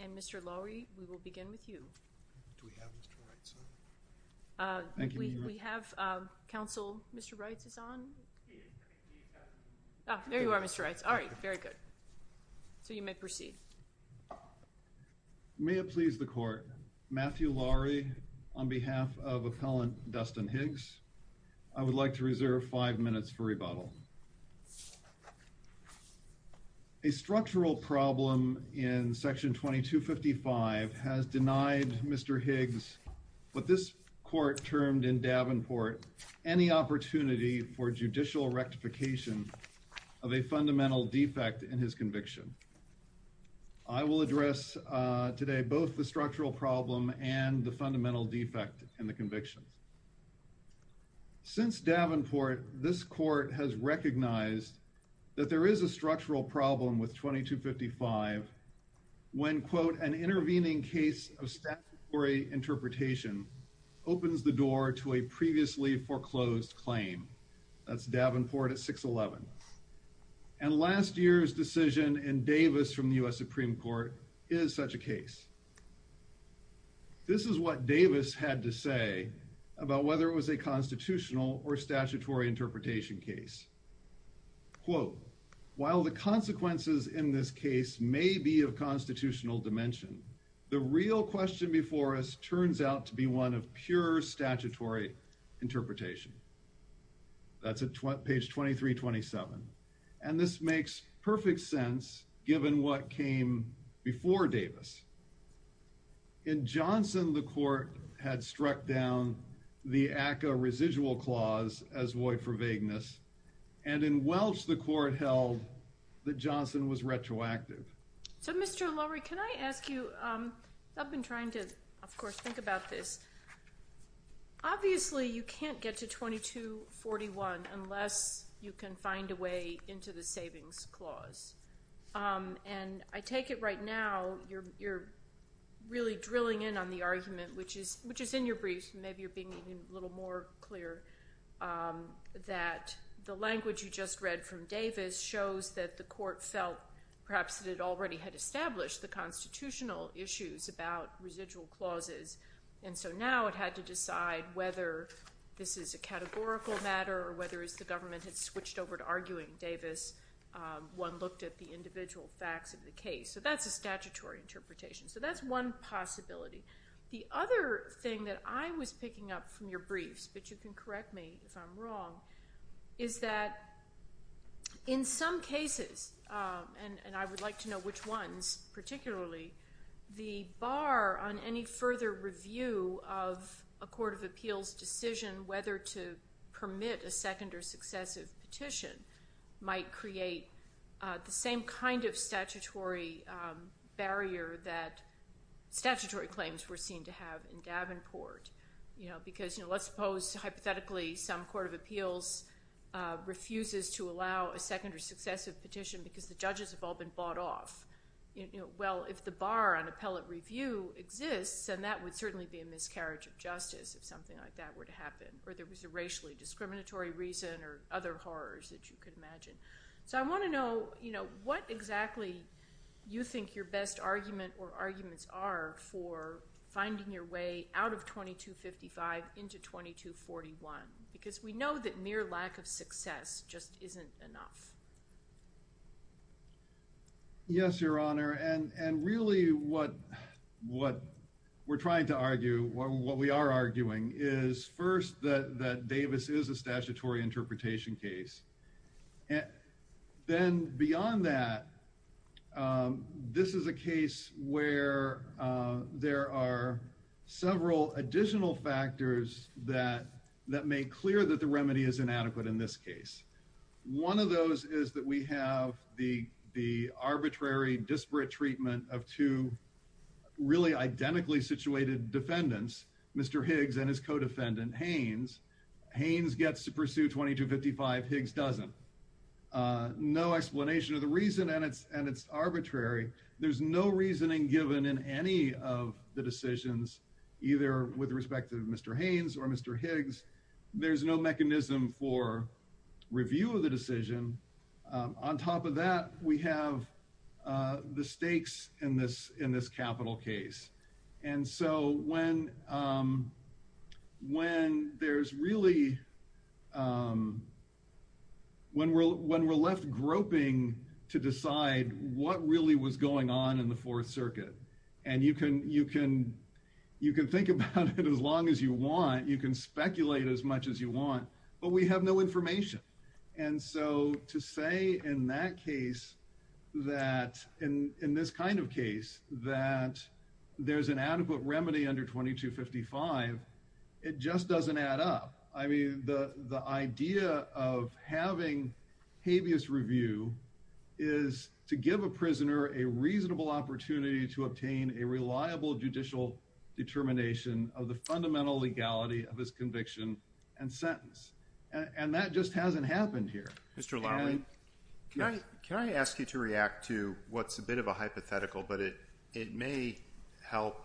and Mr. Lowry, we will begin with you. Do we have Mr. Wrights on? Thank you. We have counsel. Mr. Wrights is on? He is. There you are, Mr. Wrights. All right. Very good. So you may proceed. May it please the court, Matthew Lowry on behalf of appellant Dustin Higgs, I would like to reserve five minutes for rebuttal. A structural problem in section 2255 has denied Mr. Higgs what this court termed in Davenport any opportunity for judicial rectification of a fundamental defect in his conviction. I will address today both the structural problem and the fundamental defect in the conviction. Since Davenport, this court has recognized that there is a structural problem with 2255 when, quote, an intervening case of statutory interpretation opens the door to a previously foreclosed claim. That's Davenport at 611. And last year's decision in Davis from the U.S. Supreme Court is such a case. This is what Davis had to say about whether it was a constitutional or statutory interpretation case. Quote, while the consequences in this case may be of constitutional dimension, the real question before us turns out to be one of pure statutory interpretation. That's at page And this makes perfect sense given what came before Davis. In Johnson, the court had struck down the ACCA residual clause as void for vagueness. And in Welch, the court held that Johnson was retroactive. So, Mr. O'Loury, can I ask you I've been trying to of course think about this. Obviously, you can't get to 2241 unless you can find a way into the savings clause. And I take it right now you're really drilling in on the argument, which is in your brief, maybe you're being a little more clear that the language you just read from Davis shows that the court felt perhaps that it already had established the constitutional issues about residual clauses. And so now it had to decide whether this is a categorical matter or whether the government had switched over to arguing Davis. One looked at the individual facts of the case. So that's a statutory interpretation. So that's one possibility. The other thing that I was picking up from your briefs, but you can correct me if I'm wrong, is that in some cases, and I would like to know which ones particularly, the bar on any further review of a court of appeals decision whether to permit a second or successive petition might create the same kind of statutory barrier that statutory claims were seen to have in Davenport. Because let's suppose hypothetically some court of appeals refuses to allow a second or successive petition because the judges have all been bought off. Well, if the bar on appellate review exists then that would certainly be a miscarriage of justice if something like that were to happen. Or there was a racially discriminatory reason or other horrors that you could imagine. So I want to know what exactly you think your best argument or arguments are for finding your way out of 2255 into 2241. Because we know that mere lack of success just isn't enough. Yes, Your Honor, and really what we're trying to argue, what we are arguing, is first that Davis is a statutory interpretation case. Then beyond that, this is a case where there are several additional factors that make clear that the remedy is inadequate in this case. One of those is that we have the arbitrary disparate treatment of two really identically situated defendants, Mr. Higgs and his co-defendant Haynes. Haynes gets to pursue 2255, Higgs doesn't. No explanation of the reason, and it's arbitrary. There's no reasoning given in any of the decisions, either with respect to Mr. Haynes or Mr. Higgs. There's no mechanism for review of the decision. On top of that, we have the stakes in this capital case. And so when there's really when we're left groping to decide what really was going on in the Fourth Circuit, and you can think about it as long as you want, you can speculate as much as you want, but we have no information. And so to say in that case that in this kind of case that there's an adequate remedy under 2255, it just doesn't add up. I mean, the idea of having habeas review is to give a prisoner a reasonable opportunity to obtain a reliable judicial determination of the fundamental legality of his conviction and sentence. And that just hasn't happened here. Mr. Lowry, can I ask you to react to what's a bit of a hypothetical, but it may help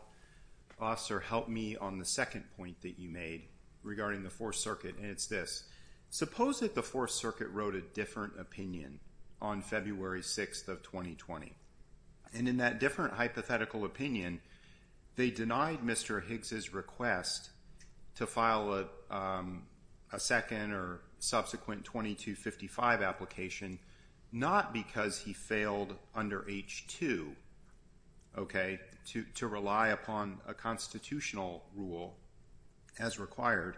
us or help me on the second point that you made regarding the Fourth Circuit, and it's this. Suppose that the Fourth Circuit wrote a different opinion on February 6th of 2020. And in that different hypothetical opinion, they denied Mr. Higgs' request to file a second or subsequent 2255 application, not because he failed under H2 to rely upon a constitutional rule as required,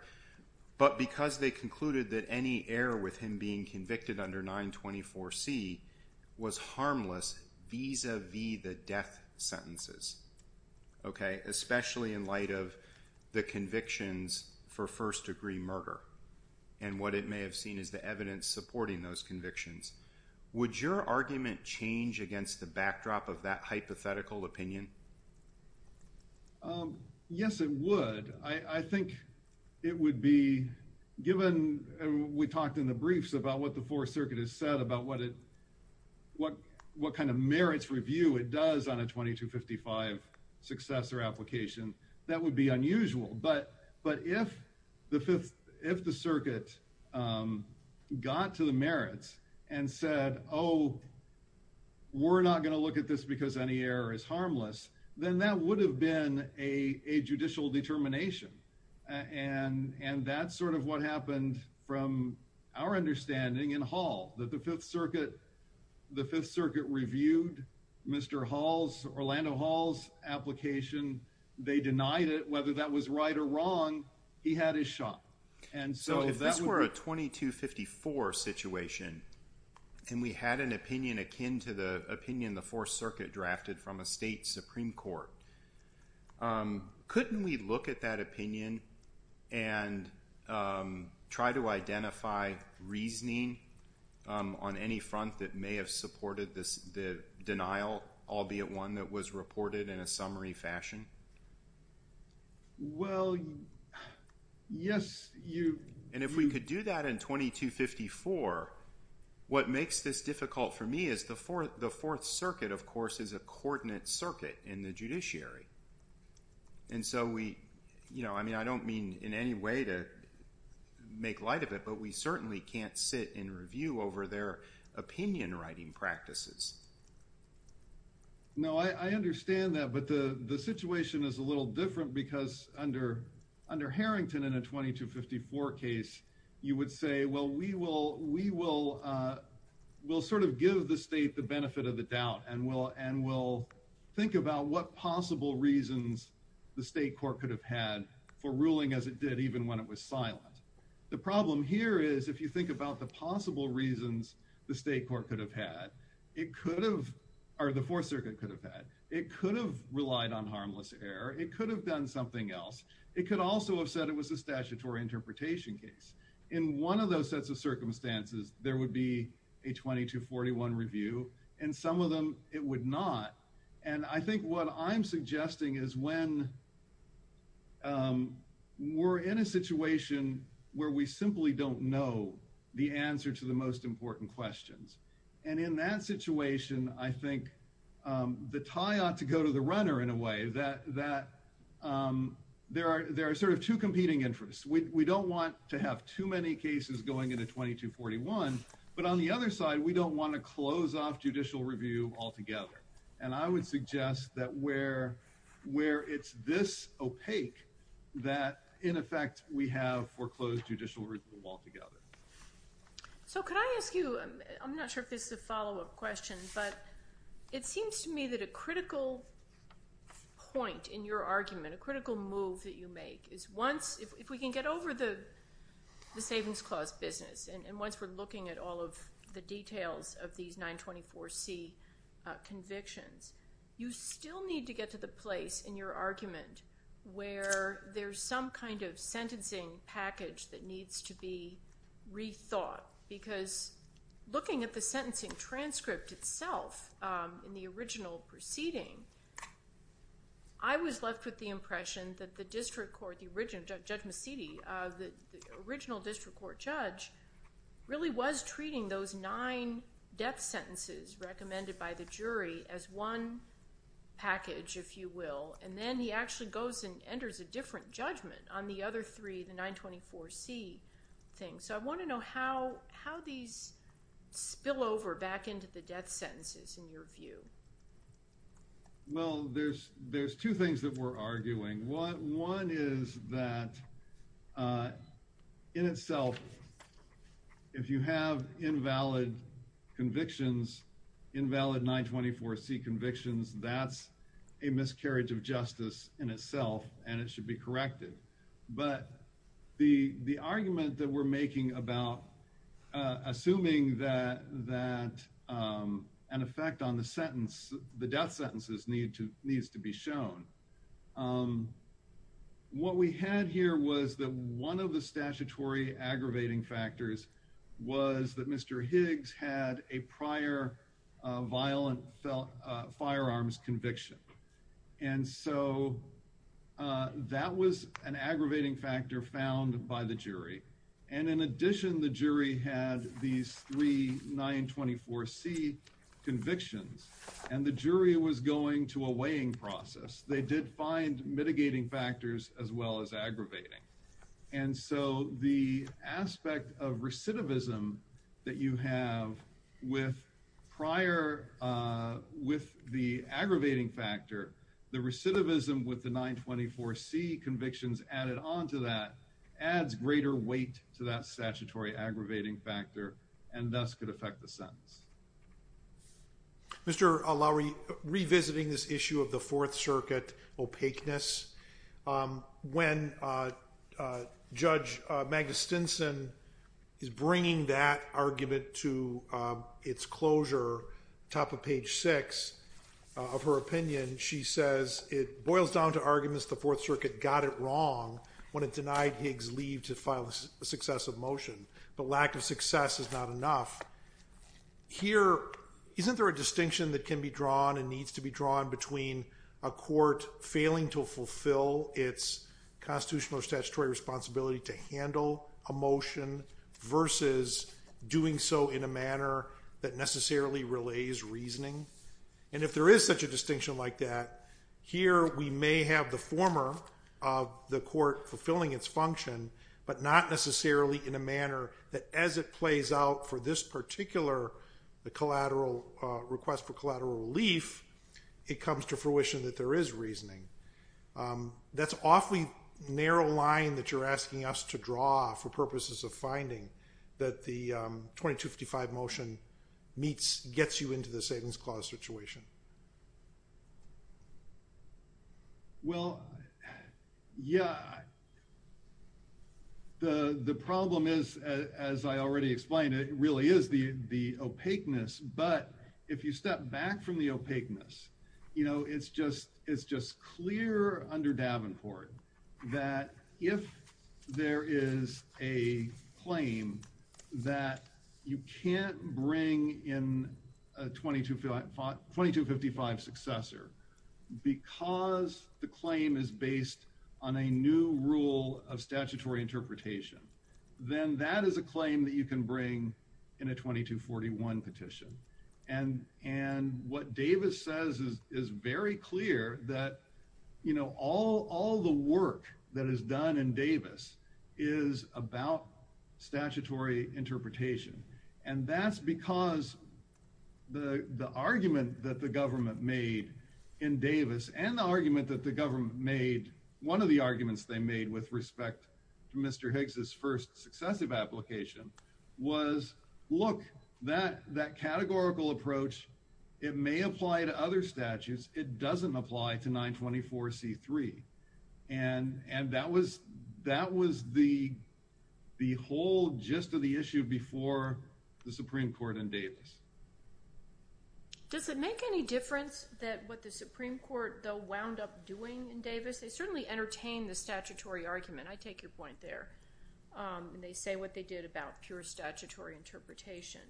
but because they concluded that any error with him being convicted under 924C was harmless vis-a-vis the death sentences, especially in light of the convictions for first-degree murder and what it may have seen as the evidence supporting those convictions. Would your argument change against the backdrop of that hypothetical opinion? Yes, it would. I think it would be, given we talked in the briefs about what the Fourth Circuit has said about what kind of merits review it does on a 2255 successor application, that would be unusual. But if the Circuit got to the merits and said, oh, we're not going to look at this because any error is harmless, then that would have been a judicial determination. And that's sort of what happened from our understanding in Hall, that the Fifth Circuit reviewed Mr. Hall's, Orlando Hall's, application. They denied it. Whether that was right or wrong, he had his shot. If this were a 2254 situation, and we had an opinion akin to the opinion the Fourth Circuit drafted from a state Supreme Court, couldn't we look at that opinion and try to identify reasoning on any front that may have supported the denial, albeit one that was reported in a summary fashion? Well, yes. And if we could do that in 2254, what makes this difficult for me is the Fourth Circuit, of course, is a coordinate circuit in the judiciary. And so we, you know, I mean, I don't mean in any way to make light of it, but we certainly can't sit and review over their opinion writing practices. No, I understand that, but the situation is a little different because under Harrington in a 2254 case, you would say, well, we will sort of give the state the benefit of the doubt and we'll think about what possible reasons the state court could have had for ruling as it did even when it was silent. The problem here is if you think about the possible reasons the state court could have had, it could have, or the court could have relied on harmless error. It could have done something else. It could also have said it was a statutory interpretation case. In one of those sets of circumstances, there would be a 2241 review and some of them it would not. And I think what I'm suggesting is when we're in a situation where we simply don't know the answer to the most important questions. And in that situation, I think the tie ought to go to the runner in a way that there are sort of two competing interests. We don't want to have too many cases going into 2241, but on the other side, we don't want to close off judicial review altogether. And I would suggest that where it's this opaque that in effect we have foreclosed judicial review altogether. So could I ask you, I'm not sure if this is a follow-up question, but it seems to me that a critical point in your argument, a critical move that you make is once, if we can get over the Savings Clause business and once we're looking at all of the details of these 924C convictions, you still need to get to the place in your argument where there's some kind of sentencing package that needs to be rethought because looking at the sentencing transcript itself in the original proceeding, I was left with the impression that the district court, Judge Macidi, the original district court judge really was treating those nine death sentences recommended by the jury as one package, if you will, and then he actually goes and enters a different judgment on the other three, the 924C thing. So I want to know how these spill over back into the death sentences in your view. Well, there's two things that we're arguing. One is that in itself if you have invalid convictions, convictions, that's a miscarriage of justice in itself and it should be corrected. But the argument that we're making about assuming that an effect on the sentence, the death sentences needs to be shown, what we had here was that one of the statutory aggravating factors was that Mr. Higgs had a prior violent firearms conviction. And so that was an aggravating factor found by the jury. And in addition, the jury had these three 924C convictions and the jury was going to a weighing process. They did find mitigating factors as well as aggravating. And so the aspect of recidivism that you have with prior with the aggravating factor, the recidivism with the 924C convictions added onto that adds greater weight to that statutory aggravating factor and thus could affect the sentence. Mr. Lowery, revisiting this issue of the Fourth Circuit opaqueness, when Judge Magna Stinson is bringing that argument to its closure top of page 6 of her opinion, she says it boils down to arguments the Fourth Circuit got it wrong when it denied Higgs leave to file a successive motion. But lack of success is not enough. Here, isn't there a distinction that can be drawn and needs to be drawn between a court failing to fulfill its constitutional or statutory responsibility to handle a motion versus doing so in a manner that necessarily relays reasoning? If there is such a distinction like that, here we may have the former of the court fulfilling its function, but not necessarily in a manner that as it plays out for this particular request for collateral relief, it comes to fruition that there is reasoning. That's an awfully narrow line that you're asking us to draw for purposes of finding that the 2255 motion gets you into the Savings Clause situation. Well, yeah, the problem is, as I already explained, it really is the opaqueness, but if you step back from the opaqueness, it's just clear under Davenport that if there is a claim that you can't bring in a 2255 successor because the claim is based on a new rule of statutory interpretation, then that is a claim that you can bring in a 2241 petition. And what Davis says is very clear that all the work that is done in Davis is about statutory interpretation. And that's because the argument that the government made in Davis, and the argument that the government made, one of the arguments they made with respect to Mr. Hicks' first successive application, was look, that categorical approach, it may apply to other statutes. It doesn't apply to 924C3. And that was the whole gist of the issue before the Supreme Court in Davis. Does it make any difference that what the Supreme Court wound up doing in Davis? They certainly entertain the statutory argument. I take your point there. They say what they did about pure statutory interpretation.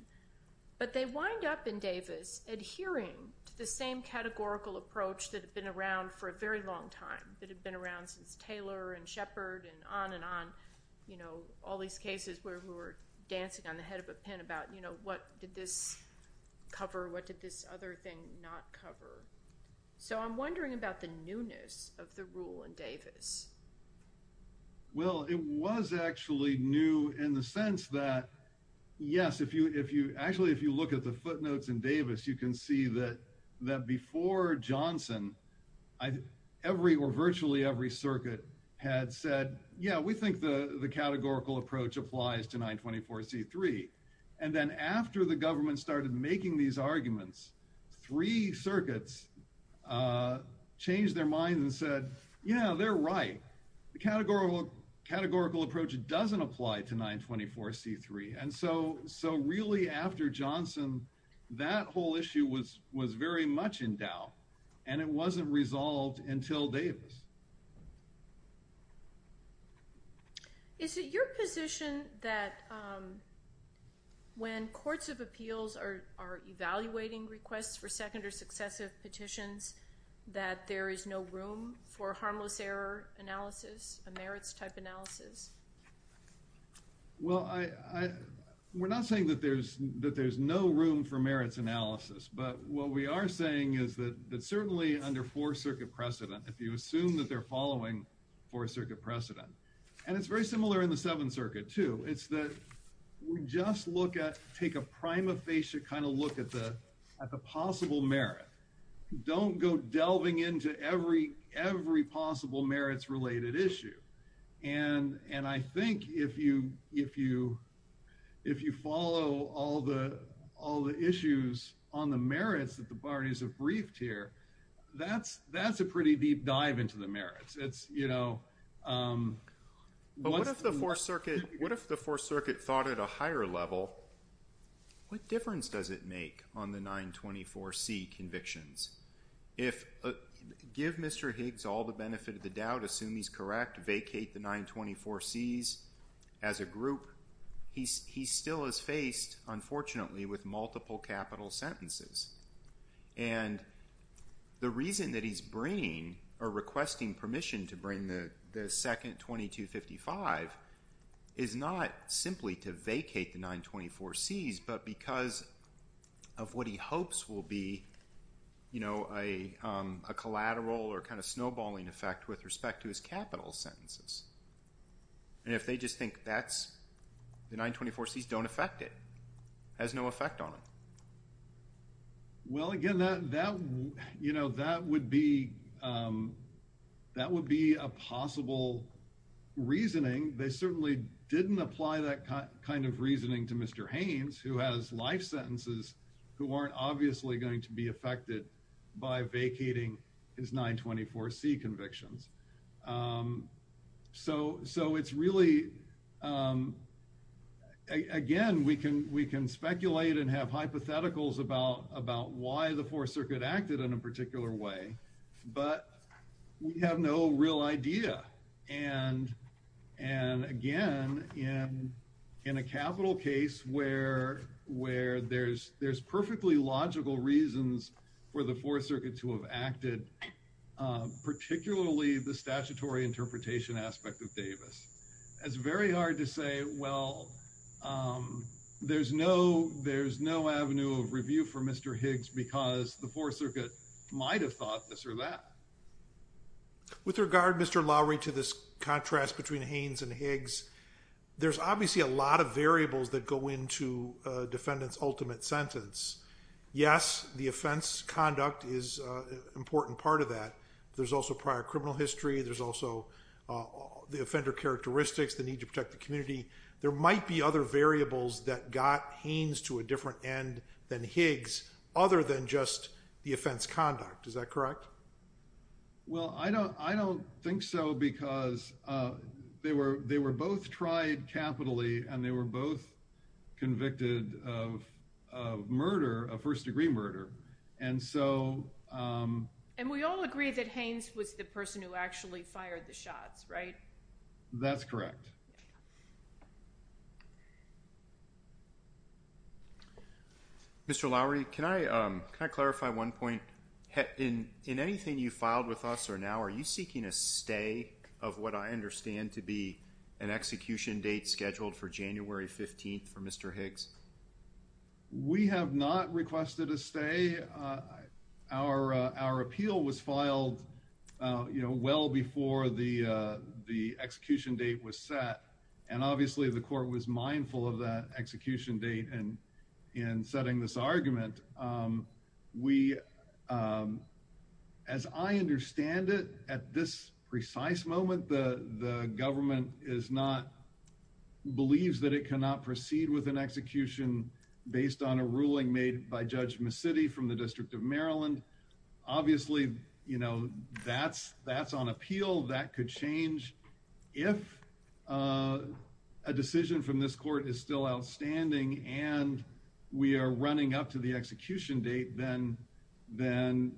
But they wind up in Davis adhering to the same categorical approach that had been around for a very long time, that had been around since 924C3. And I'm wondering about, you know, all these cases where we were dancing on the head of a pin about, you know, what did this cover? What did this other thing not cover? So I'm wondering about the newness of the rule in Davis. Well, it was actually new in the sense that, yes, if you actually, if you look at the footnotes in Davis, you can see that before Johnson, every or virtually every circuit had said, yeah, we think the categorical approach applies to 924C3. And then after the government started making these arguments, three circuits changed their minds and said, yeah, they're right. The categorical approach doesn't apply to 924C3. And so really after Johnson, that whole issue was very much in doubt, and it wasn't resolved until Davis. Is it your position that when courts of appeals are evaluating requests for second or successive petitions that there is no room for harmless error analysis, a merits type analysis? Well, we're not saying that there's no room for merits analysis, but what we are saying is that certainly under 4th Circuit precedent, if you assume that they're following 4th Circuit precedent, and it's very similar in the 7th Circuit too, it's that we just look at take a prima facie kind of look at the possible merit. Don't go delving into every possible merits related issue. And I think if you follow all the issues on the merits that the parties have briefed here, that's a pretty deep dive into the merits. What if the 4th Circuit thought at a higher level, what difference does it make on the 924C convictions? Give Mr. Higgs all the benefit of the doubt, assume he's correct, vacate the 924Cs as a court is faced, unfortunately, with multiple capital sentences. And the reason that he's bringing or requesting permission to bring the second 2255 is not simply to vacate the 924Cs, but because of what he hopes will be a collateral or kind of snowballing effect with respect to his capital sentences. And if they just think that the 924Cs don't affect it, has no effect on it. Well, again, that would be a possible reasoning. They certainly didn't apply that kind of reasoning to Mr. Haynes, who has life sentences who aren't obviously going to be affected by vacating his 924C convictions. So it's really, again, we can speculate and have hypotheticals about why the Fourth Circuit acted in a particular way, but we have no real idea. And a capital case where there's perfectly logical reasons for the Fourth Circuit to have acted particularly the statutory interpretation aspect of Davis. It's very hard to say, well, there's no avenue of review for Mr. Higgs because the Fourth Circuit might have thought this or that. With regard, Mr. Lowry, to this contrast between Haynes and Higgs, there's obviously a lot of variables that go into a defendant's ultimate sentence. Yes, the offense conduct is an important part of that. There's also prior criminal history. There's also the offender characteristics, the need to protect the community. There might be other variables that got Haynes to a different end than Higgs, other than just the offense conduct. Is that correct? Well, I don't think so because they were both tried capitally and they were both convicted of murder, of first degree murder. And we all agree that Haynes was the person who actually fired the shots, right? That's correct. Mr. Lowry, can I clarify one point? In anything you filed with us or now, are you seeking a stay of what I understand to be an execution date scheduled for January 15th for Mr. Higgs? We have not requested a stay. Our appeal was filed well before the execution date was set. And obviously the court was mindful of that execution date in setting this argument. As I understand it, at this precise moment, the government believes that it cannot proceed with an execution based on a ruling made by Judge McCity from the District of Maryland. Obviously, you know, that's on appeal. That could change if a decision from this court is still outstanding and we are running up to the execution date, then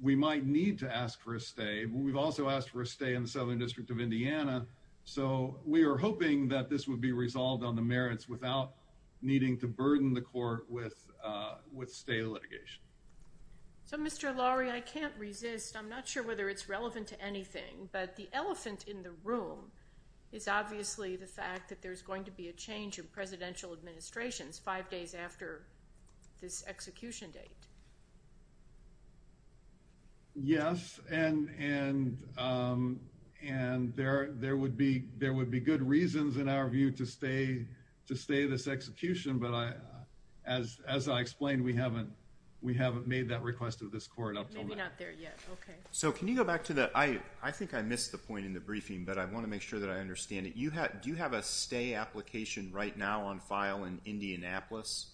we might need to ask for a stay. We've also asked for a stay in the Southern District of Indiana, so we are hoping that this would be resolved on the merits without needing to burden the court with stay litigation. So, Mr. Lowry, I can't resist. I'm not sure whether it's relevant to anything, but the elephant in the room is obviously the fact that there's going to be a change in presidential administrations five days after this execution date. Yes, and there would be good reasons, in our view, to stay this execution, but as I explained, we haven't made that request of this court. Maybe not there yet. Okay. I think I missed the point in the briefing, but I want to make sure that I understand it. Do you have a stay application right now on file in Indianapolis?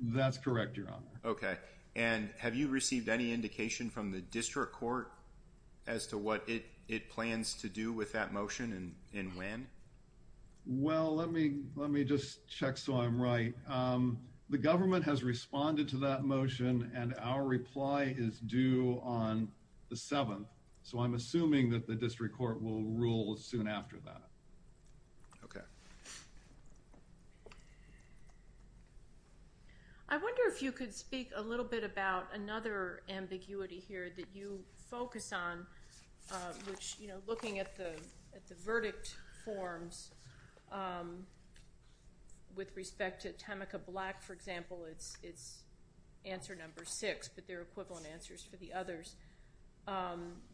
That's correct, Your Honor. Okay. Have you received any indication from the district court as to what it plans to do with that motion and when? Well, let me just check so I'm right. The government has responded to that motion, and our reply is due on the 7th, so I'm assuming that the district court will rule soon after that. Okay. I wonder if you could speak a little bit about another ambiguity here that you focus on, which, you know, looking at the verdict forms with respect to Tamika Black, for example, it's answer number 6, but they're equivalent answers for the others.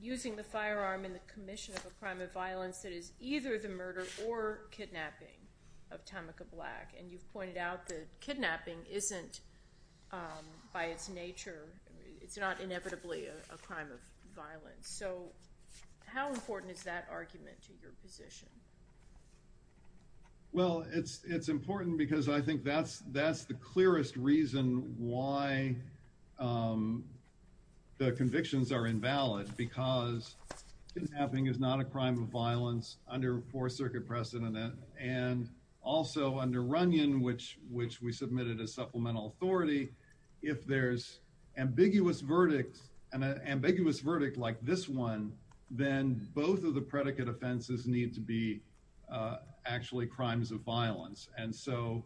Using the firearm in the commission of a crime of violence that is either the murder or kidnapping of Tamika Black, and you've pointed out that kidnapping isn't by its nature, it's not inevitably a crime of violence, so how important is that argument to your position? Well, it's important because I think that's the clearest reason why the convictions are invalid, because kidnapping is not a crime of violence under Fourth Circuit precedent, and also under Runyon, which we submitted as supplemental authority, if there's ambiguous verdict like this one, then both of the predicate offenses need to be actually crimes of violence, and so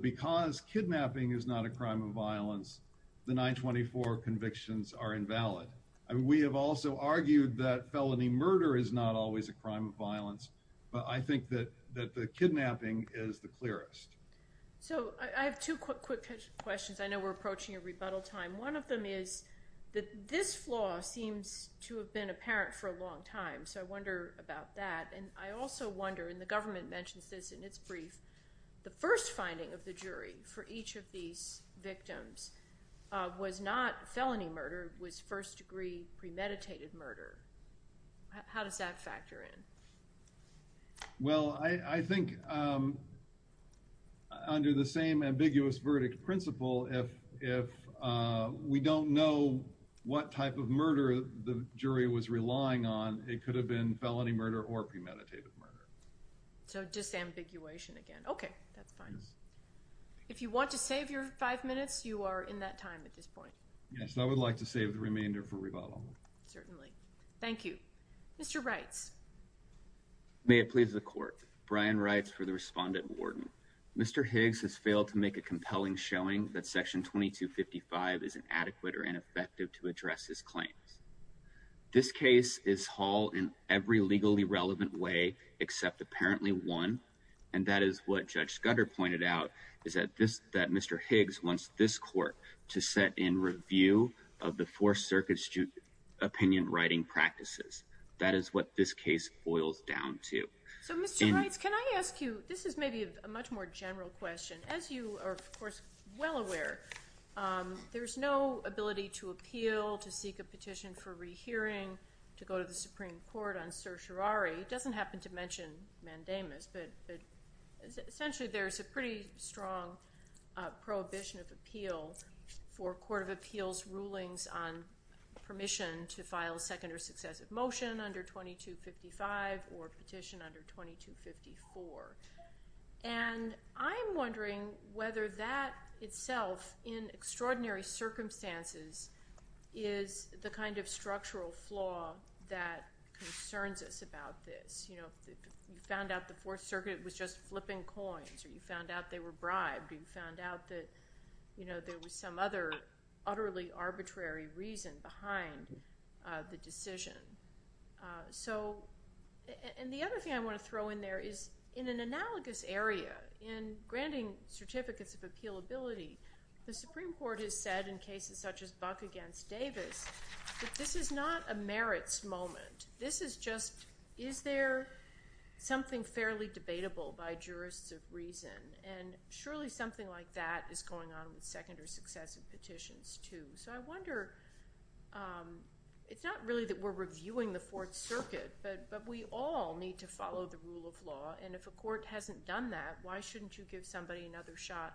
because kidnapping is not a crime of violence, the 924 convictions are invalid. We have also argued that felony murder is not always a crime of violence, but I think that the kidnapping is the clearest. So, I have two quick questions. I know we're approaching a rebuttal time. One of them is that this flaw seems to have been apparent for a long time, so I wonder about that, and I also wonder, and the government mentions this in its brief, the first finding of the jury for each of these victims was not felony murder, it was first-degree premeditated murder. How does that factor in? Well, I think under the same ambiguous verdict principle, if we don't know what type of murder the jury was relying on, it could have been felony murder or premeditated murder. So, disambiguation again. Okay, that's fine. If you want to save your five minutes, you are in that time at this point. Yes, I would like to save the remainder for rebuttal. Certainly. Thank you. Mr. Reitz. May it please the Court. Brian Reitz for the Respondent-Warden. Mr. Higgs has failed to make a compelling showing that Section 2255 is inadequate or ineffective to address his claims. This case is hauled in every legally relevant way, except apparently one, and that is what Judge Scudder pointed out, is that Mr. Higgs wants this Court to set in review of the Fourth Circuit's opinion writing practices. That is what this case boils down to. So, Mr. Reitz, can I ask you, this is maybe a much more general question. As you are, of course, well aware, there's no ability to appeal, to seek a petition for rehearing, to go to the Supreme Court on certiorari. He doesn't happen to mention mandamus, but essentially there's a pretty strong prohibition of appeal for Court of Appeals rulings on permission to file a second or successive motion under 2255 or petition under 2254. And I'm wondering whether that itself, in extraordinary circumstances, is the kind of structural flaw that concerns us about this. You know, you found out the Fourth Circuit was just flipping coins, or you found out they were bribed, or you found out that, you know, there was some other utterly arbitrary reason behind the decision. So, and the other thing I want to throw in there is, in an analogous area, in granting certificates of appealability, the Supreme Court has said in cases such as Buck against Davis that this is not a merits moment. This is just, is there something fairly debatable by jurists of reason? And surely something like that is going on with second or successive petitions, too. So I wonder, it's not really that we're reviewing the Fourth Circuit, but we all need to follow the rule of law, and if a court hasn't done that, why shouldn't you give somebody another shot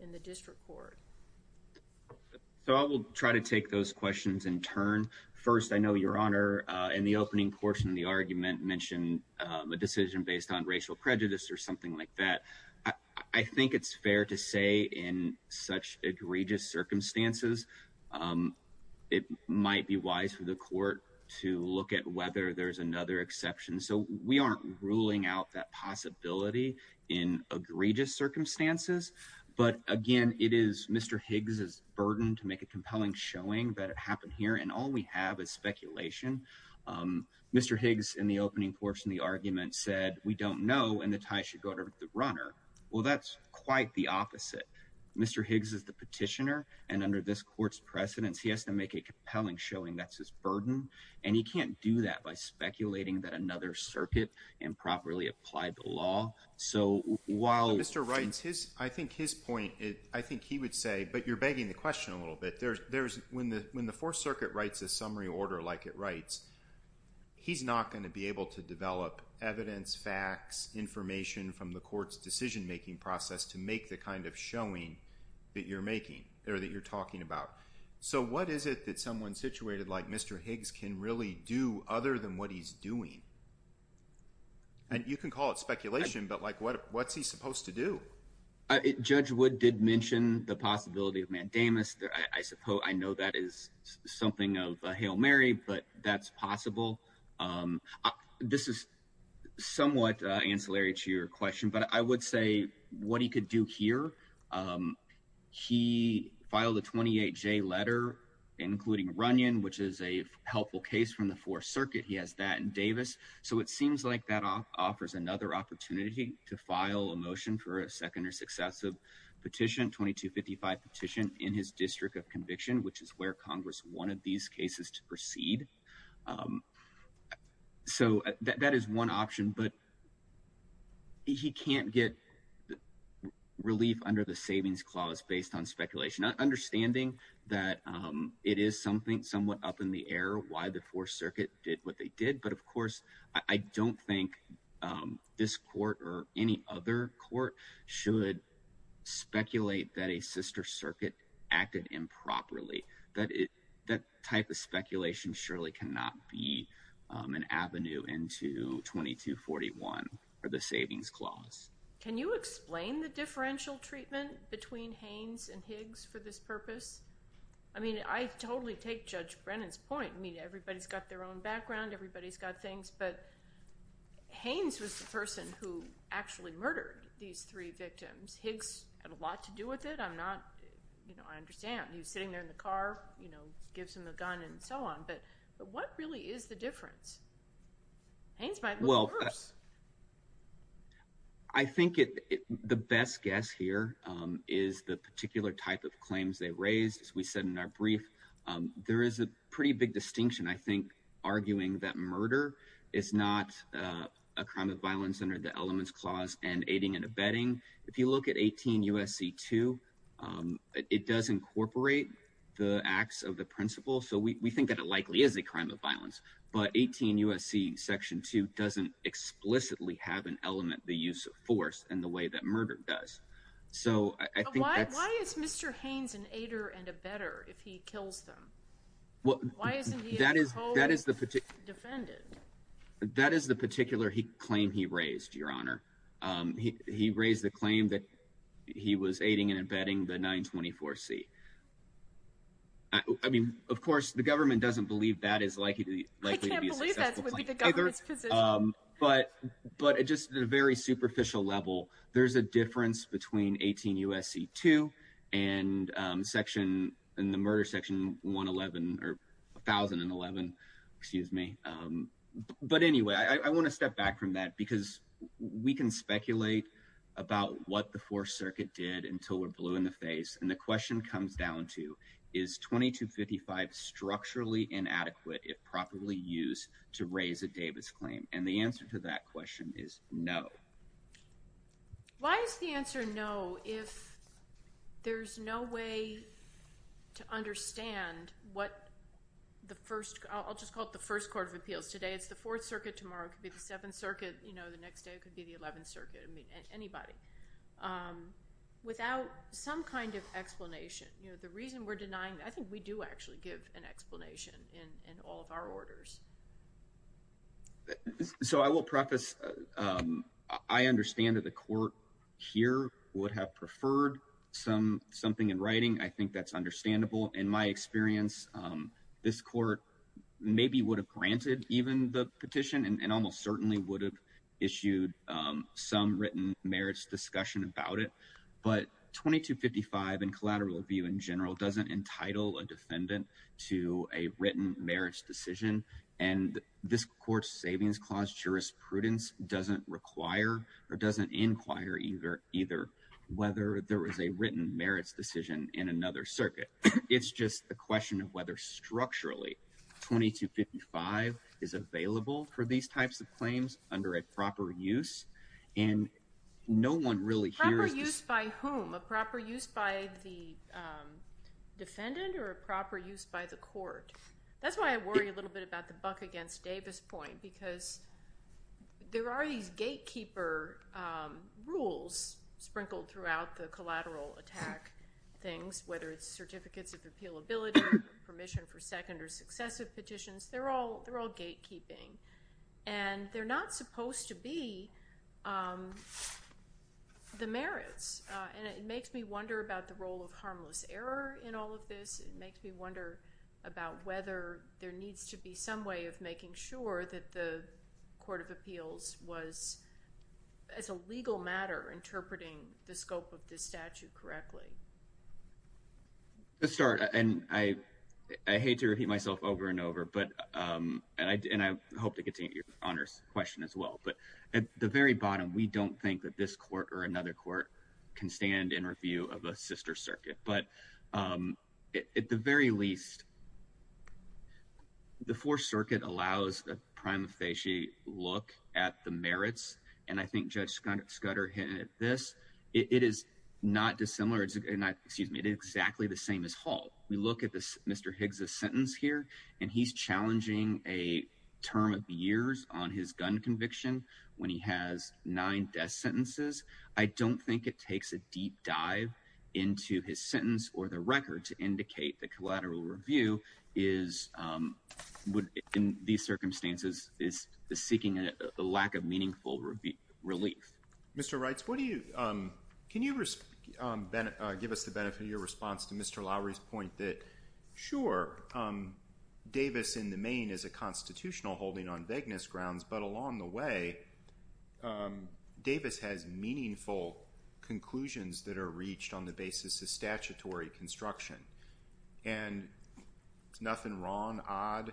in the district court? So I will try to take those questions in turn. First, I know Your Honor, in the opening portion of the argument, mentioned a decision based on racial prejudice or something like that. I think it's fair to say in such egregious circumstances, it might be wise for the court to look at whether there's another exception. So we aren't ruling out that possibility in egregious circumstances, but again, it is Mr. Higgs' burden to make a compelling showing that Mr. Higgs, in the opening portion of the argument, said, we don't know, and the tie should go to the runner. Well, that's quite the opposite. Mr. Higgs is the petitioner, and under this court's precedence, he has to make a compelling showing that's his burden, and he can't do that by speculating that another circuit improperly applied the law. Mr. Wright, I think his point, I think he would say, but you're begging the question a little bit. When the Fourth Circuit writes a summary order like it writes, he's not going to be able to develop evidence, facts, information from the court's decision making process to make the kind of showing that you're making, or that you're talking about. So what is it that someone situated like Mr. Higgs can really do other than what he's doing? You can call it speculation, but what's he supposed to do? Judge Wood did mention the possibility of mandamus. I know that is something of a Hail Mary, but that's possible. This is somewhat ancillary to your question, but I would say what he could do here, he filed a 28J letter including Runyon, which is a helpful case from the Fourth Circuit. He has that in Davis. So it seems like that offers another opportunity to file a motion for a second or successive petition, 2255 petition in his district of Davis. that would be the best case to proceed. So that is one option, but he can't get relief under the savings clause based on speculation. Understanding that it is something somewhat up in the air why the Fourth Circuit did what they did, but of course, I don't think this court or any other court should speculate that a sister circuit acted improperly. That type of speculation surely cannot be an avenue into 2241 or the savings clause. Can you explain the differential treatment between Haynes and Higgs for this purpose? I mean, I totally take Judge Brennan's point. I mean, everybody's got their own background, everybody's got things, but Haynes was the person who actually murdered these three victims. Higgs had a lot to do with it. I'm not, you know, I understand. He was sitting there in the car, you know, gives him a gun and so on, but what really is the difference? Haynes might look worse. I think the best guess here is the particular type of claims they raised. As we said in our brief, there is a pretty big distinction, I think, arguing that murder is not a crime of violence under the elements clause and aiding and abetting. If you look at 18 U.S.C. 2, it does incorporate the acts of the principle, so we think that it likely is a crime of violence, but 18 U.S.C. section 2 doesn't explicitly have an element, the use of force, in the way that murder does. Why is Mr. Haynes an aider and abetter if he kills them? Why isn't he a defendant? That is the particular claim he raised, Your Honor. He raised the claim that he was aiding and abetting the 924C. I mean, of course, the government doesn't believe that is likely to be a successful claim. I can't believe that would be the government's position. But just at a very superficial level, there's a difference between 18 U.S.C. 2 and the murder section 1011, or 1011, excuse me. But anyway, I want to step back from that because we can speculate about what the Fourth Circuit did until we're blue in the face, and the question comes down to is 2255 structurally inadequate if properly used to raise a Davis claim? And the answer to that question is no. Why is the answer no if there's no way to understand what the First, I'll just call it the First Court of Appeals today, it's the Fourth Circuit tomorrow, it could be the Seventh Circuit, you know, the next day it could be the Eleventh Circuit, I mean, anybody without some kind of explanation. The reason we're denying, I think we do actually give an explanation in all of our orders. So I will preface, I understand that the Court here would have preferred something in writing, I think that's understandable. In my experience, this Court maybe would have granted even the petition and almost certainly would have issued some written merits discussion about it, but 2255 and collateral review in general doesn't entitle a defendant to a written merits decision, and this Court's Savings Clause jurisprudence doesn't require or doesn't inquire either whether there is a written merits decision in another circuit. It's just a question of whether structurally 2255 is available for these types of claims under a proper use and no one really hears... Proper use by whom? A proper use by the defendant or a proper use by the Court? That's why I worry a little bit about the Buck against Davis point because there are these gatekeeper rules sprinkled throughout the collateral attack things, whether it's certificates of repealability, permission for second or successive petitions, they're all gatekeeping. And they're not supposed to be the merits. And it makes me wonder about the role of harmless error in all of this. It makes me wonder about whether there needs to be some way of making sure that the Court of Appeals was, as a legal matter, interpreting the scope of this statute correctly. To start, and I hate to repeat myself over and over, but and I hope to continue your question as well, but at the very bottom we don't think that this Court or another Court can stand in review of a sister circuit, but at the very least the Fourth Circuit allows a prima facie look at the merits, and I think Judge Scudder hinted at this, it is not dissimilar, excuse me, it is exactly the same as Hall. We look at this Mr. Higgs' sentence here, and he's challenging a term of years on his gun conviction when he has nine death sentences. I don't think it takes a deep dive into his sentence or the record to indicate the collateral for legal review is in these circumstances is the seeking a lack of meaningful relief. Mr. Reitz, what do you can you give us the benefit of your response to Mr. Lowery's point that sure Davis in the main is a constitutional holding on begginness grounds but along the way Davis has meaningful conclusions that are reached on the basis of statutory construction. Nothing wrong, odd,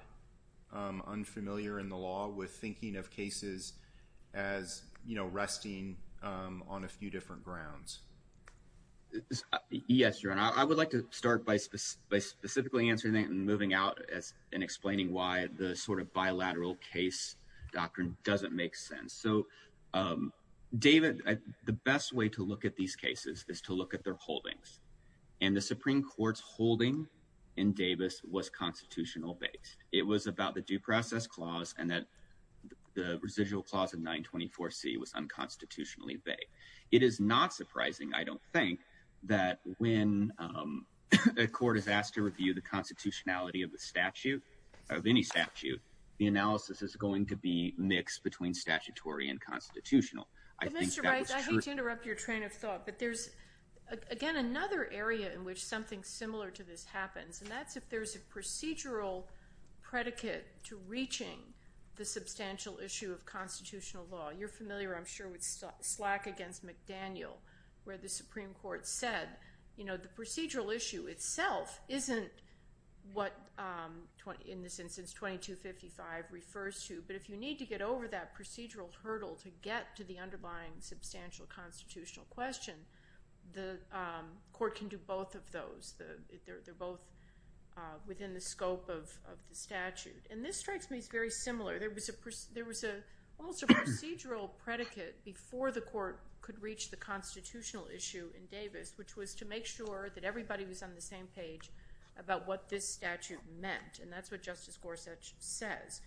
unfamiliar in the law with thinking of cases as resting on a few different grounds. Yes, your honor, I would like to start by specifically answering that and moving out and explaining why the sort of bilateral case doctrine doesn't make sense. David, the best way to look at these cases is to look at their holdings and the Supreme Court's holding in Davis was constitutional based. It was about the due process clause and that the residual clause of 924C was unconstitutionally vague. It is not surprising, I don't think, that when a court is asked to review the constitutionality of the statute, of any statute, the analysis is going to be mixed between statutory and constitutional. Mr. Reitz, I hate to interrupt your train of thought, but there's again another area in which something similar to this happens and that's if there's a procedural predicate to reaching the substantial issue of constitutional law. You're familiar, I'm sure, with Slack against McDaniel where the Supreme Court said the procedural issue itself isn't what in this instance 2255 refers to, but if you need to get over that procedural hurdle to get to the underlying substantial constitutional question, the court can do both of those. They're both within the scope of the statute. And this strikes me as very similar. There was almost a procedural predicate before the court could reach the constitutional issue in Davis, which was to make sure that everybody was on the same page about what this statute meant, and that's what Justice Gorsuch says.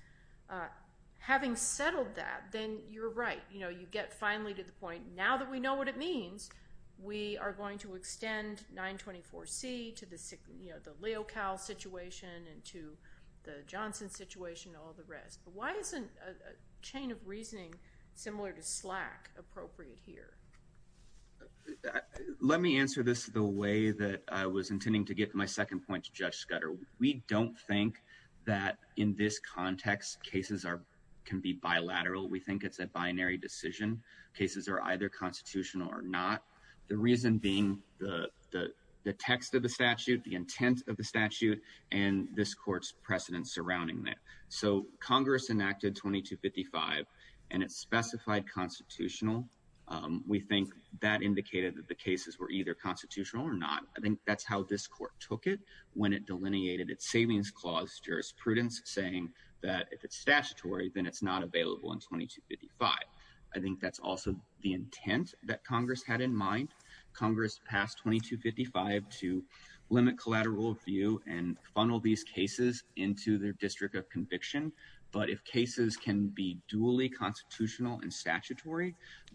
Having settled that, then you're right. You know, you get finally to the point, now that we know what it means, we are going to extend 924C to the Leo Cal situation and to the Johnson situation and all the rest. But why isn't a chain of reasoning similar to Slack appropriate here? Let me answer this the way that I was intending to get to my second point to Judge Scudder. We don't think that in this context cases can be bilateral. We think it's a binary decision. Cases are either constitutional or not. The reason being the text of the statute, the intent of the statute, and this court's precedent surrounding that. So Congress enacted 2255, and it specified constitutional. We think that indicated that the cases were either constitutional or not. I think that's how this court took it when it passed 2255. I think that's also the intent that Congress had in mind. Congress passed 2255 to limit collateral review and funnel these cases into their district of conviction. But if cases can be duly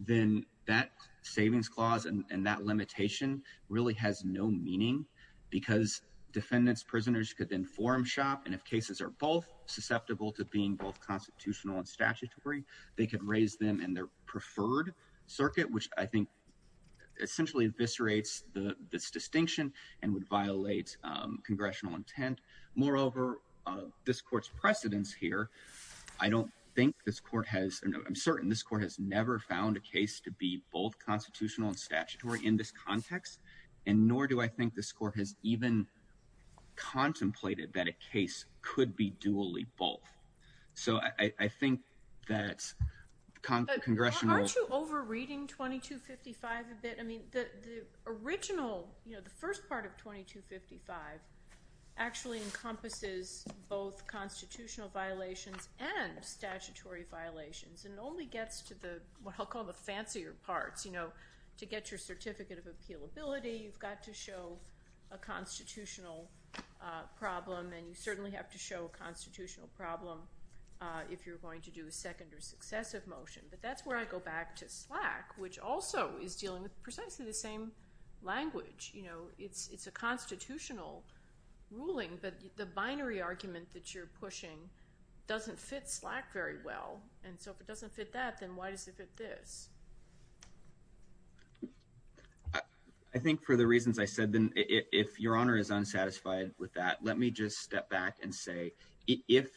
then that savings clause and that limitation really has no meaning because defendants, prisoners could then form shop and if cases are both susceptible to being both constitutional and statutory, they could raise them in their preferred circuit, which I think essentially eviscerates this distinction and would violate congressional intent. Moreover, this court's precedence here, I don't think this court has, I'm certain this court has never found a case to be both constitutional and statutory in this context and nor do I think this court has even contemplated that a case could be duly both. I think that congressional... Aren't you over reading 2255 a bit? The original, the first part of 2255 actually encompasses both constitutional violations and statutory violations and only gets to the what I'll call the fancier parts. To get your certificate of a constitutional problem and you certainly have to show a constitutional problem if you're going to do a second or successive motion, but that's where I go back to Slack which also is dealing with precisely the same language. It's a constitutional ruling, but the binary argument that you're pushing doesn't fit Slack very well and so if it doesn't fit that, then why does it fit this? I think for the reasons I said then, if Your Honor is unsatisfied with that, let me just step back and say if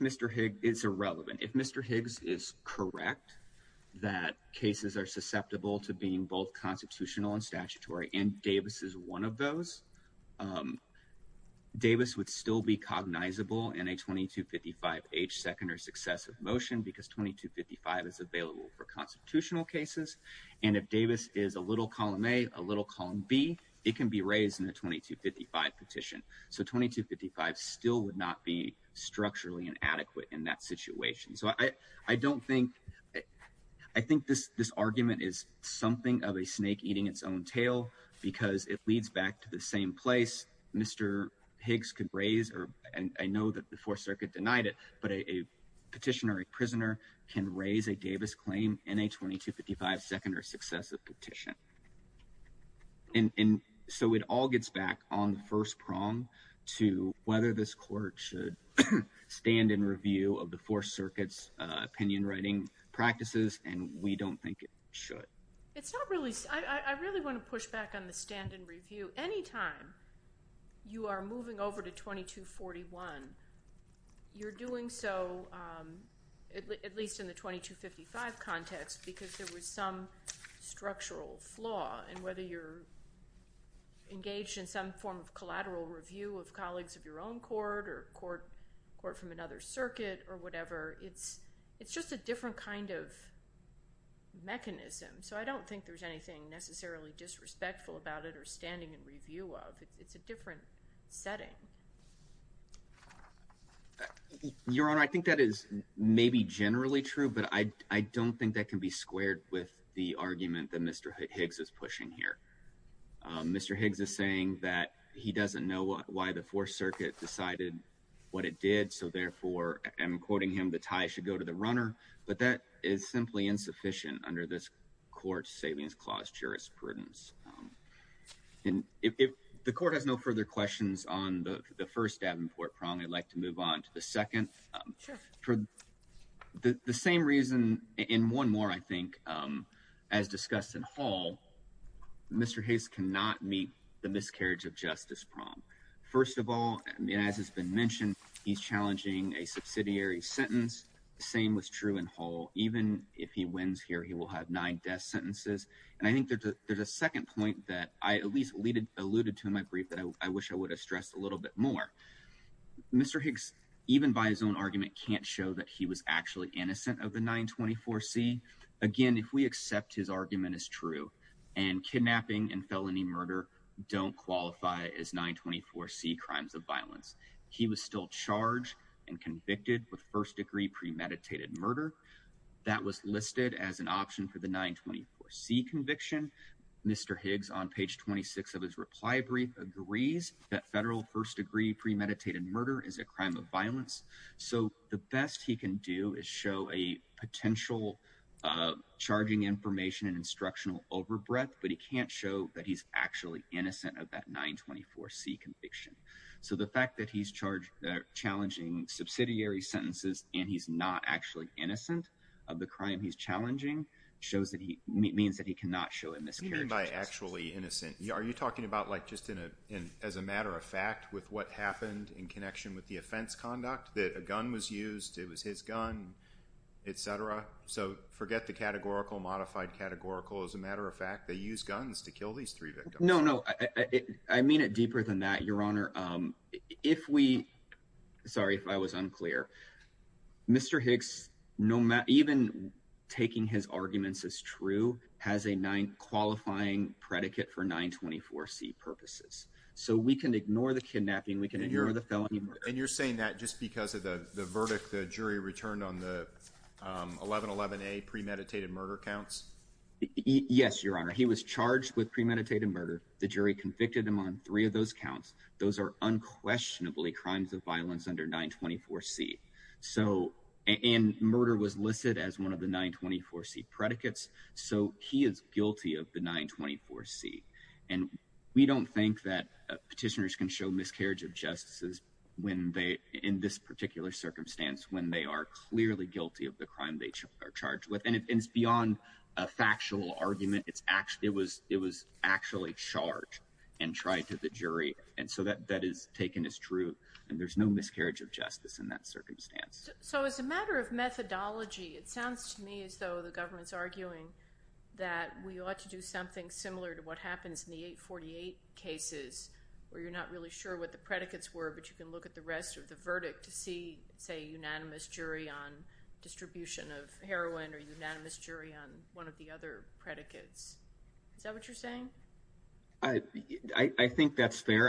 Mr. Higgs is irrelevant, if Mr. Higgs is correct that cases are susceptible to being both constitutional and statutory and Davis is one of those, Davis would still be cognizable in a 2255 H second or successive motion because 2255 is available for constitutional cases and if Davis is a little column A a little column B, it can be raised in a 2255 petition. So 2255 still would not be structurally inadequate in that situation. So I don't think I think this argument is something of a snake eating its own tail because it leads back to the same place Mr. Higgs could raise and I know that the Fourth Circuit denied it, but a petitioner, a claim in a 2255 second or successive petition. And so it all gets back on the first prong to whether this court should stand in review of the Fourth Circuit's opinion writing practices and we don't think it should. It's not really I really want to push back on the stand and review. Anytime you are moving over to 2241, you're doing so at least in the 2255 context because there was some structural flaw and whether you're engaged in some form of collateral review of colleagues of your own court or court from another circuit or whatever, it's just a different kind of mechanism. So I don't think there's anything necessarily disrespectful about it or standing in review of. It's a different setting. Your Honor, I think that is maybe generally true, but I don't think that can be squared with the argument that Mr. Higgs is pushing here. Mr. Higgs is saying that he doesn't know why the Fourth Circuit decided what it did. So therefore I'm quoting him, the tie should go to the runner, but that is simply insufficient under this court savings clause jurisprudence. And if the court has no further questions on the first Davenport prong, I'd like to move on to the second. The same reason in one more, I think, as discussed in Hall, Mr. Higgs cannot meet the miscarriage of justice prong. First of all, and as has been mentioned, he's challenging a subsidiary sentence. Same was true in Hall. Even if he wins here, he will have nine death sentences. And I think there's a second point that I at least alluded to in my brief that I wish I would have stressed a little bit more. Mr. Higgs, even by his own argument, can't show that he was actually innocent of the 924C. Again, if we accept his argument as true and kidnapping and felony murder don't qualify as 924C crimes of violence, he was still charged and convicted with first degree premeditated murder. That was listed as an option for the 924C conviction. Mr. Higgs, on page 26 of his reply brief, agrees that federal first degree premeditated murder is a crime of violence. So the best he can do is show a potential charging information and instructional overbreath, but he can't show that he's actually innocent of that 924C conviction. So the fact that he's challenging subsidiary sentences and he's not actually innocent of the crime he's challenging means that he cannot show a miscarriage of justice. What do you mean by actually innocent? Are you talking about just as a matter of fact with what happened in connection with the offense conduct? That a gun was used, it was his gun, etc.? So forget the categorical, modified categorical. As a matter of fact, they used guns to kill these three victims. No, no. I mean it deeper than that, Your Honor. If we... Sorry if I was unclear. Mr. Higgs, even taking his arguments as true has a qualifying predicate for 924C purposes. So we can ignore the kidnapping, we can ignore the felony murder. And you're saying that just because of the verdict the jury returned on the 1111A premeditated murder counts? Yes, Your Honor. He was charged with premeditated murder. The jury convicted him on three of those counts. Those are unquestionably crimes of violence under 924C. And murder was listed as one of the 924C predicates, so he is guilty of the 924C. And we don't think that petitioners can show miscarriage of justice in this particular circumstance when they are clearly guilty of the crime they are charged with. And it's beyond a factual argument. It was actually charged and tried to the jury, and so that is taken as true. And there's no miscarriage of justice in that circumstance. So as a matter of methodology, it sounds to me as though the government's arguing that we ought to do something similar to what happens in the 848 cases where you're not really sure what the predicates were, but you can look at the rest of the verdict to see, say, a unanimous jury on distribution of heroin or unanimous jury on one of the other predicates. Is that what you're saying? I think that's fair.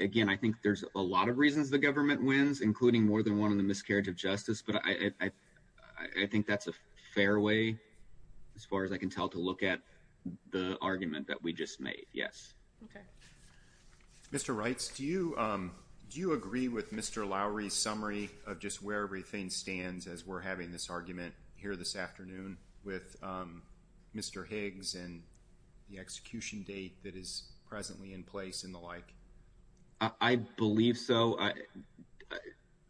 Again, I think there's a lot of reasons the government wins, including more than one in the miscarriage of justice, but I think that's a fair way, as far as I can tell, to look at the argument that we just made. Yes. Mr. Reitz, do you agree with Mr. Lowery's summary of just where everything stands as we're having this argument here this afternoon with Mr. Higgs and the execution date that is I believe so.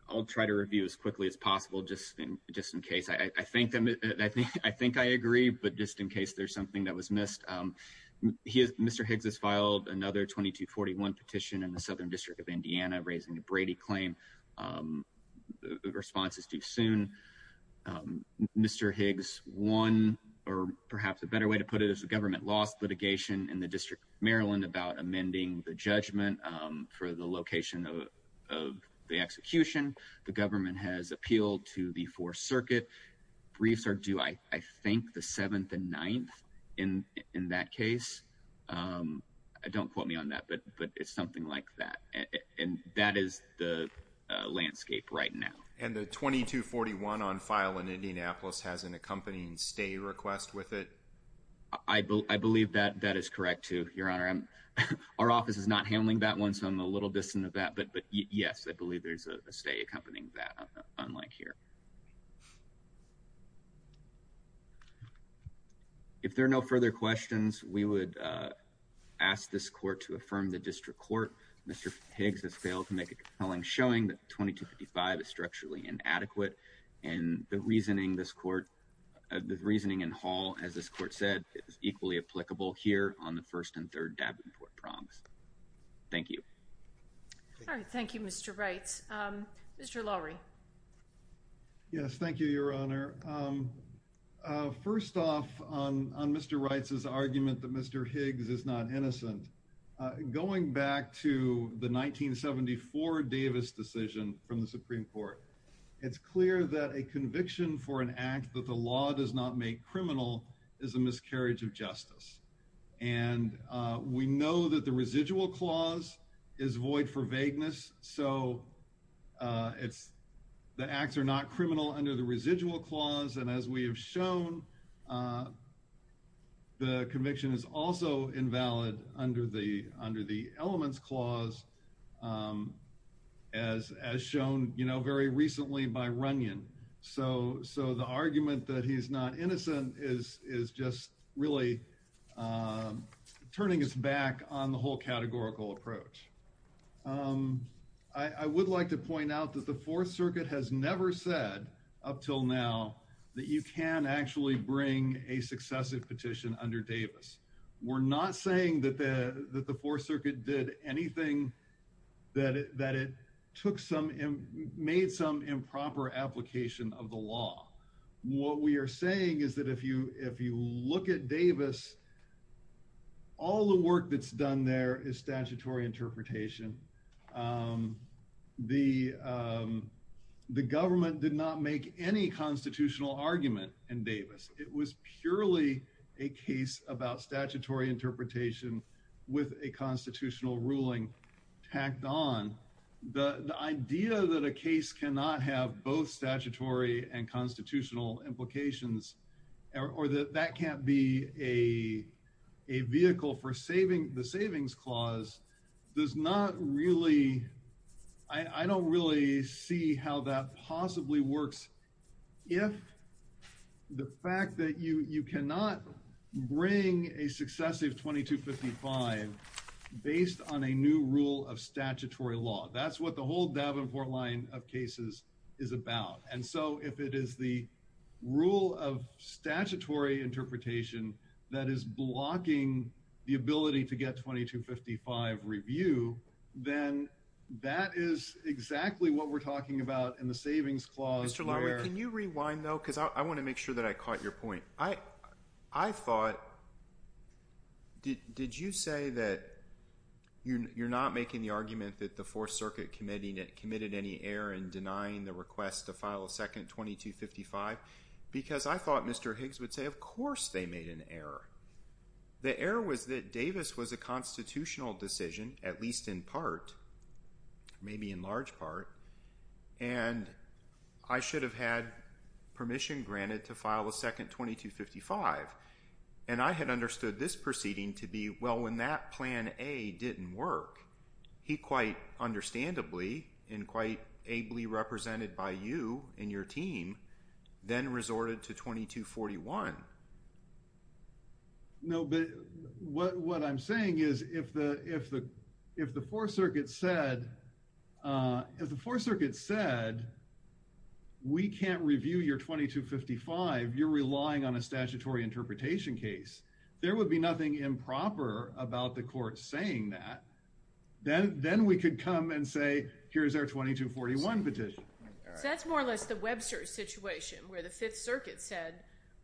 I'll try to review as quickly as possible, just in case. I think I agree, but just in case there's something that was missed. Mr. Higgs has filed another 2241 petition in the Southern District of Indiana raising the Brady claim. The response is too soon. Mr. Higgs won, or perhaps a better way to put it is the government lost litigation in the District of Maryland about amending the judgment for the location of the execution. The government has appealed to the 4th Circuit. Briefs are due, I think, the 7th and 9th in that case. Don't quote me on that, but it's something like that. That is the landscape right now. And the 2241 on file in Indianapolis has an accompanying stay request with it. I believe that is correct, too, Your Honor. Our office is not handling that one, so I'm a little distant of that, but yes, I believe there's a stay accompanying that unlike here. If there are no further questions, we would ask this Court to affirm the District Court. Mr. Higgs has failed to make a compelling showing that 2255 is structurally inadequate and the reasoning this Court the reasoning in Hall, as this Court said, is equally applicable here on the 1st and 3rd Davenport Prongs. Thank you. Thank you, Mr. Wright. Mr. Lowry. Yes, thank you, Your Honor. First off, on Mr. Wright's argument that Mr. Higgs is not innocent, going back to the 1974 Davis decision from the Supreme Court, it's clear that a conviction for an act that the law does not make criminal is a miscarriage of justice. And we know that the residual clause is void for vagueness, so it's the acts are not criminal under the residual clause, and as we have shown, the conviction is also invalid under the elements clause as shown very recently by Runyon. So the argument that he's not innocent is just really turning us back on the whole categorical approach. I would like to point out that the Fourth Circuit has never said, up till now, that you can actually bring a successive petition under Davis. We're not saying that the Fourth Circuit did anything that it took some made some improper application of the law. What we are saying is that if you look at Davis, all the work that's done there is statutory interpretation. The government did not make any constitutional argument in Davis. It was purely a case about statutory interpretation with a constitutional ruling tacked on. The idea that a case cannot have both statutory and constitutional implications or that that can't be a vehicle for the savings clause does not really I don't really see how that possibly works if the fact that you cannot bring a successive 2255 based on a new rule of statutory law. That's what the whole Davenport line of cases is about. And so, if it is the rule of statutory interpretation that is blocking the ability to get 2255 review, then that is exactly what we're talking about in the savings clause. Mr. Lowery, can you rewind, though? Because I want to make sure that I caught your point. I thought did you say that you're not making the argument that the Fourth Circuit committed any error in denying the request to file a second 2255? Because I thought Mr. Higgs would say, of course they made an error. The error was that Davis was a constitutional decision, at least in part, maybe in large part, and I should have had permission granted to file a second 2255. And I had understood this proceeding to be, well, when that Plan A didn't work, he quite understandably and quite ably represented by you and your team, then resorted to 2241. No, but what I'm saying is if the Fourth Circuit said, if the Fourth Circuit said we can't review your 2255, you're relying on a statutory interpretation case, there would be nothing improper about the court saying that. Then we could come and say, here's our 2241 petition. So that's more or less the Webster situation where the Fifth Circuit said,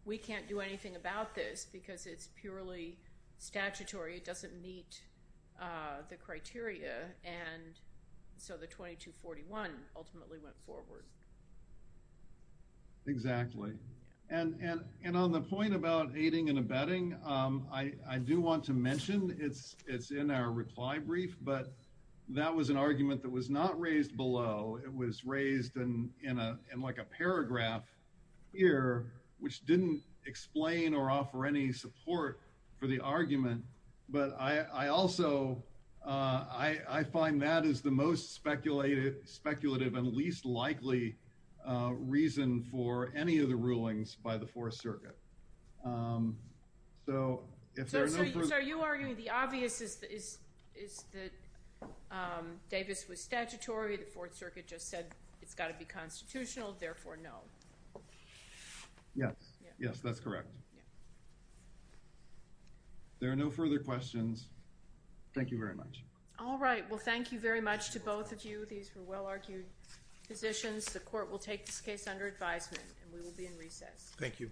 we can't do anything about this because it's purely statutory. It doesn't meet the criteria and so the 2241 ultimately went forward. Exactly. And on the point about aiding and abetting, I do want to mention it's in our reply brief, but that was an argument that was not raised below. It was raised in like a paragraph here which didn't explain or offer any support for the argument, but I also I find that is the most speculative and least likely reason for any of the rulings by the Fourth Circuit. So are you arguing the obvious is that Davis was statutory, the Fourth Circuit just said it's got to be constitutional, therefore no. Yes, that's correct. There are no further questions. Thank you very much. All right. Well, thank you very much to both of you. These were questions. The Court will take this case under advisement and we will be in recess. Thank you.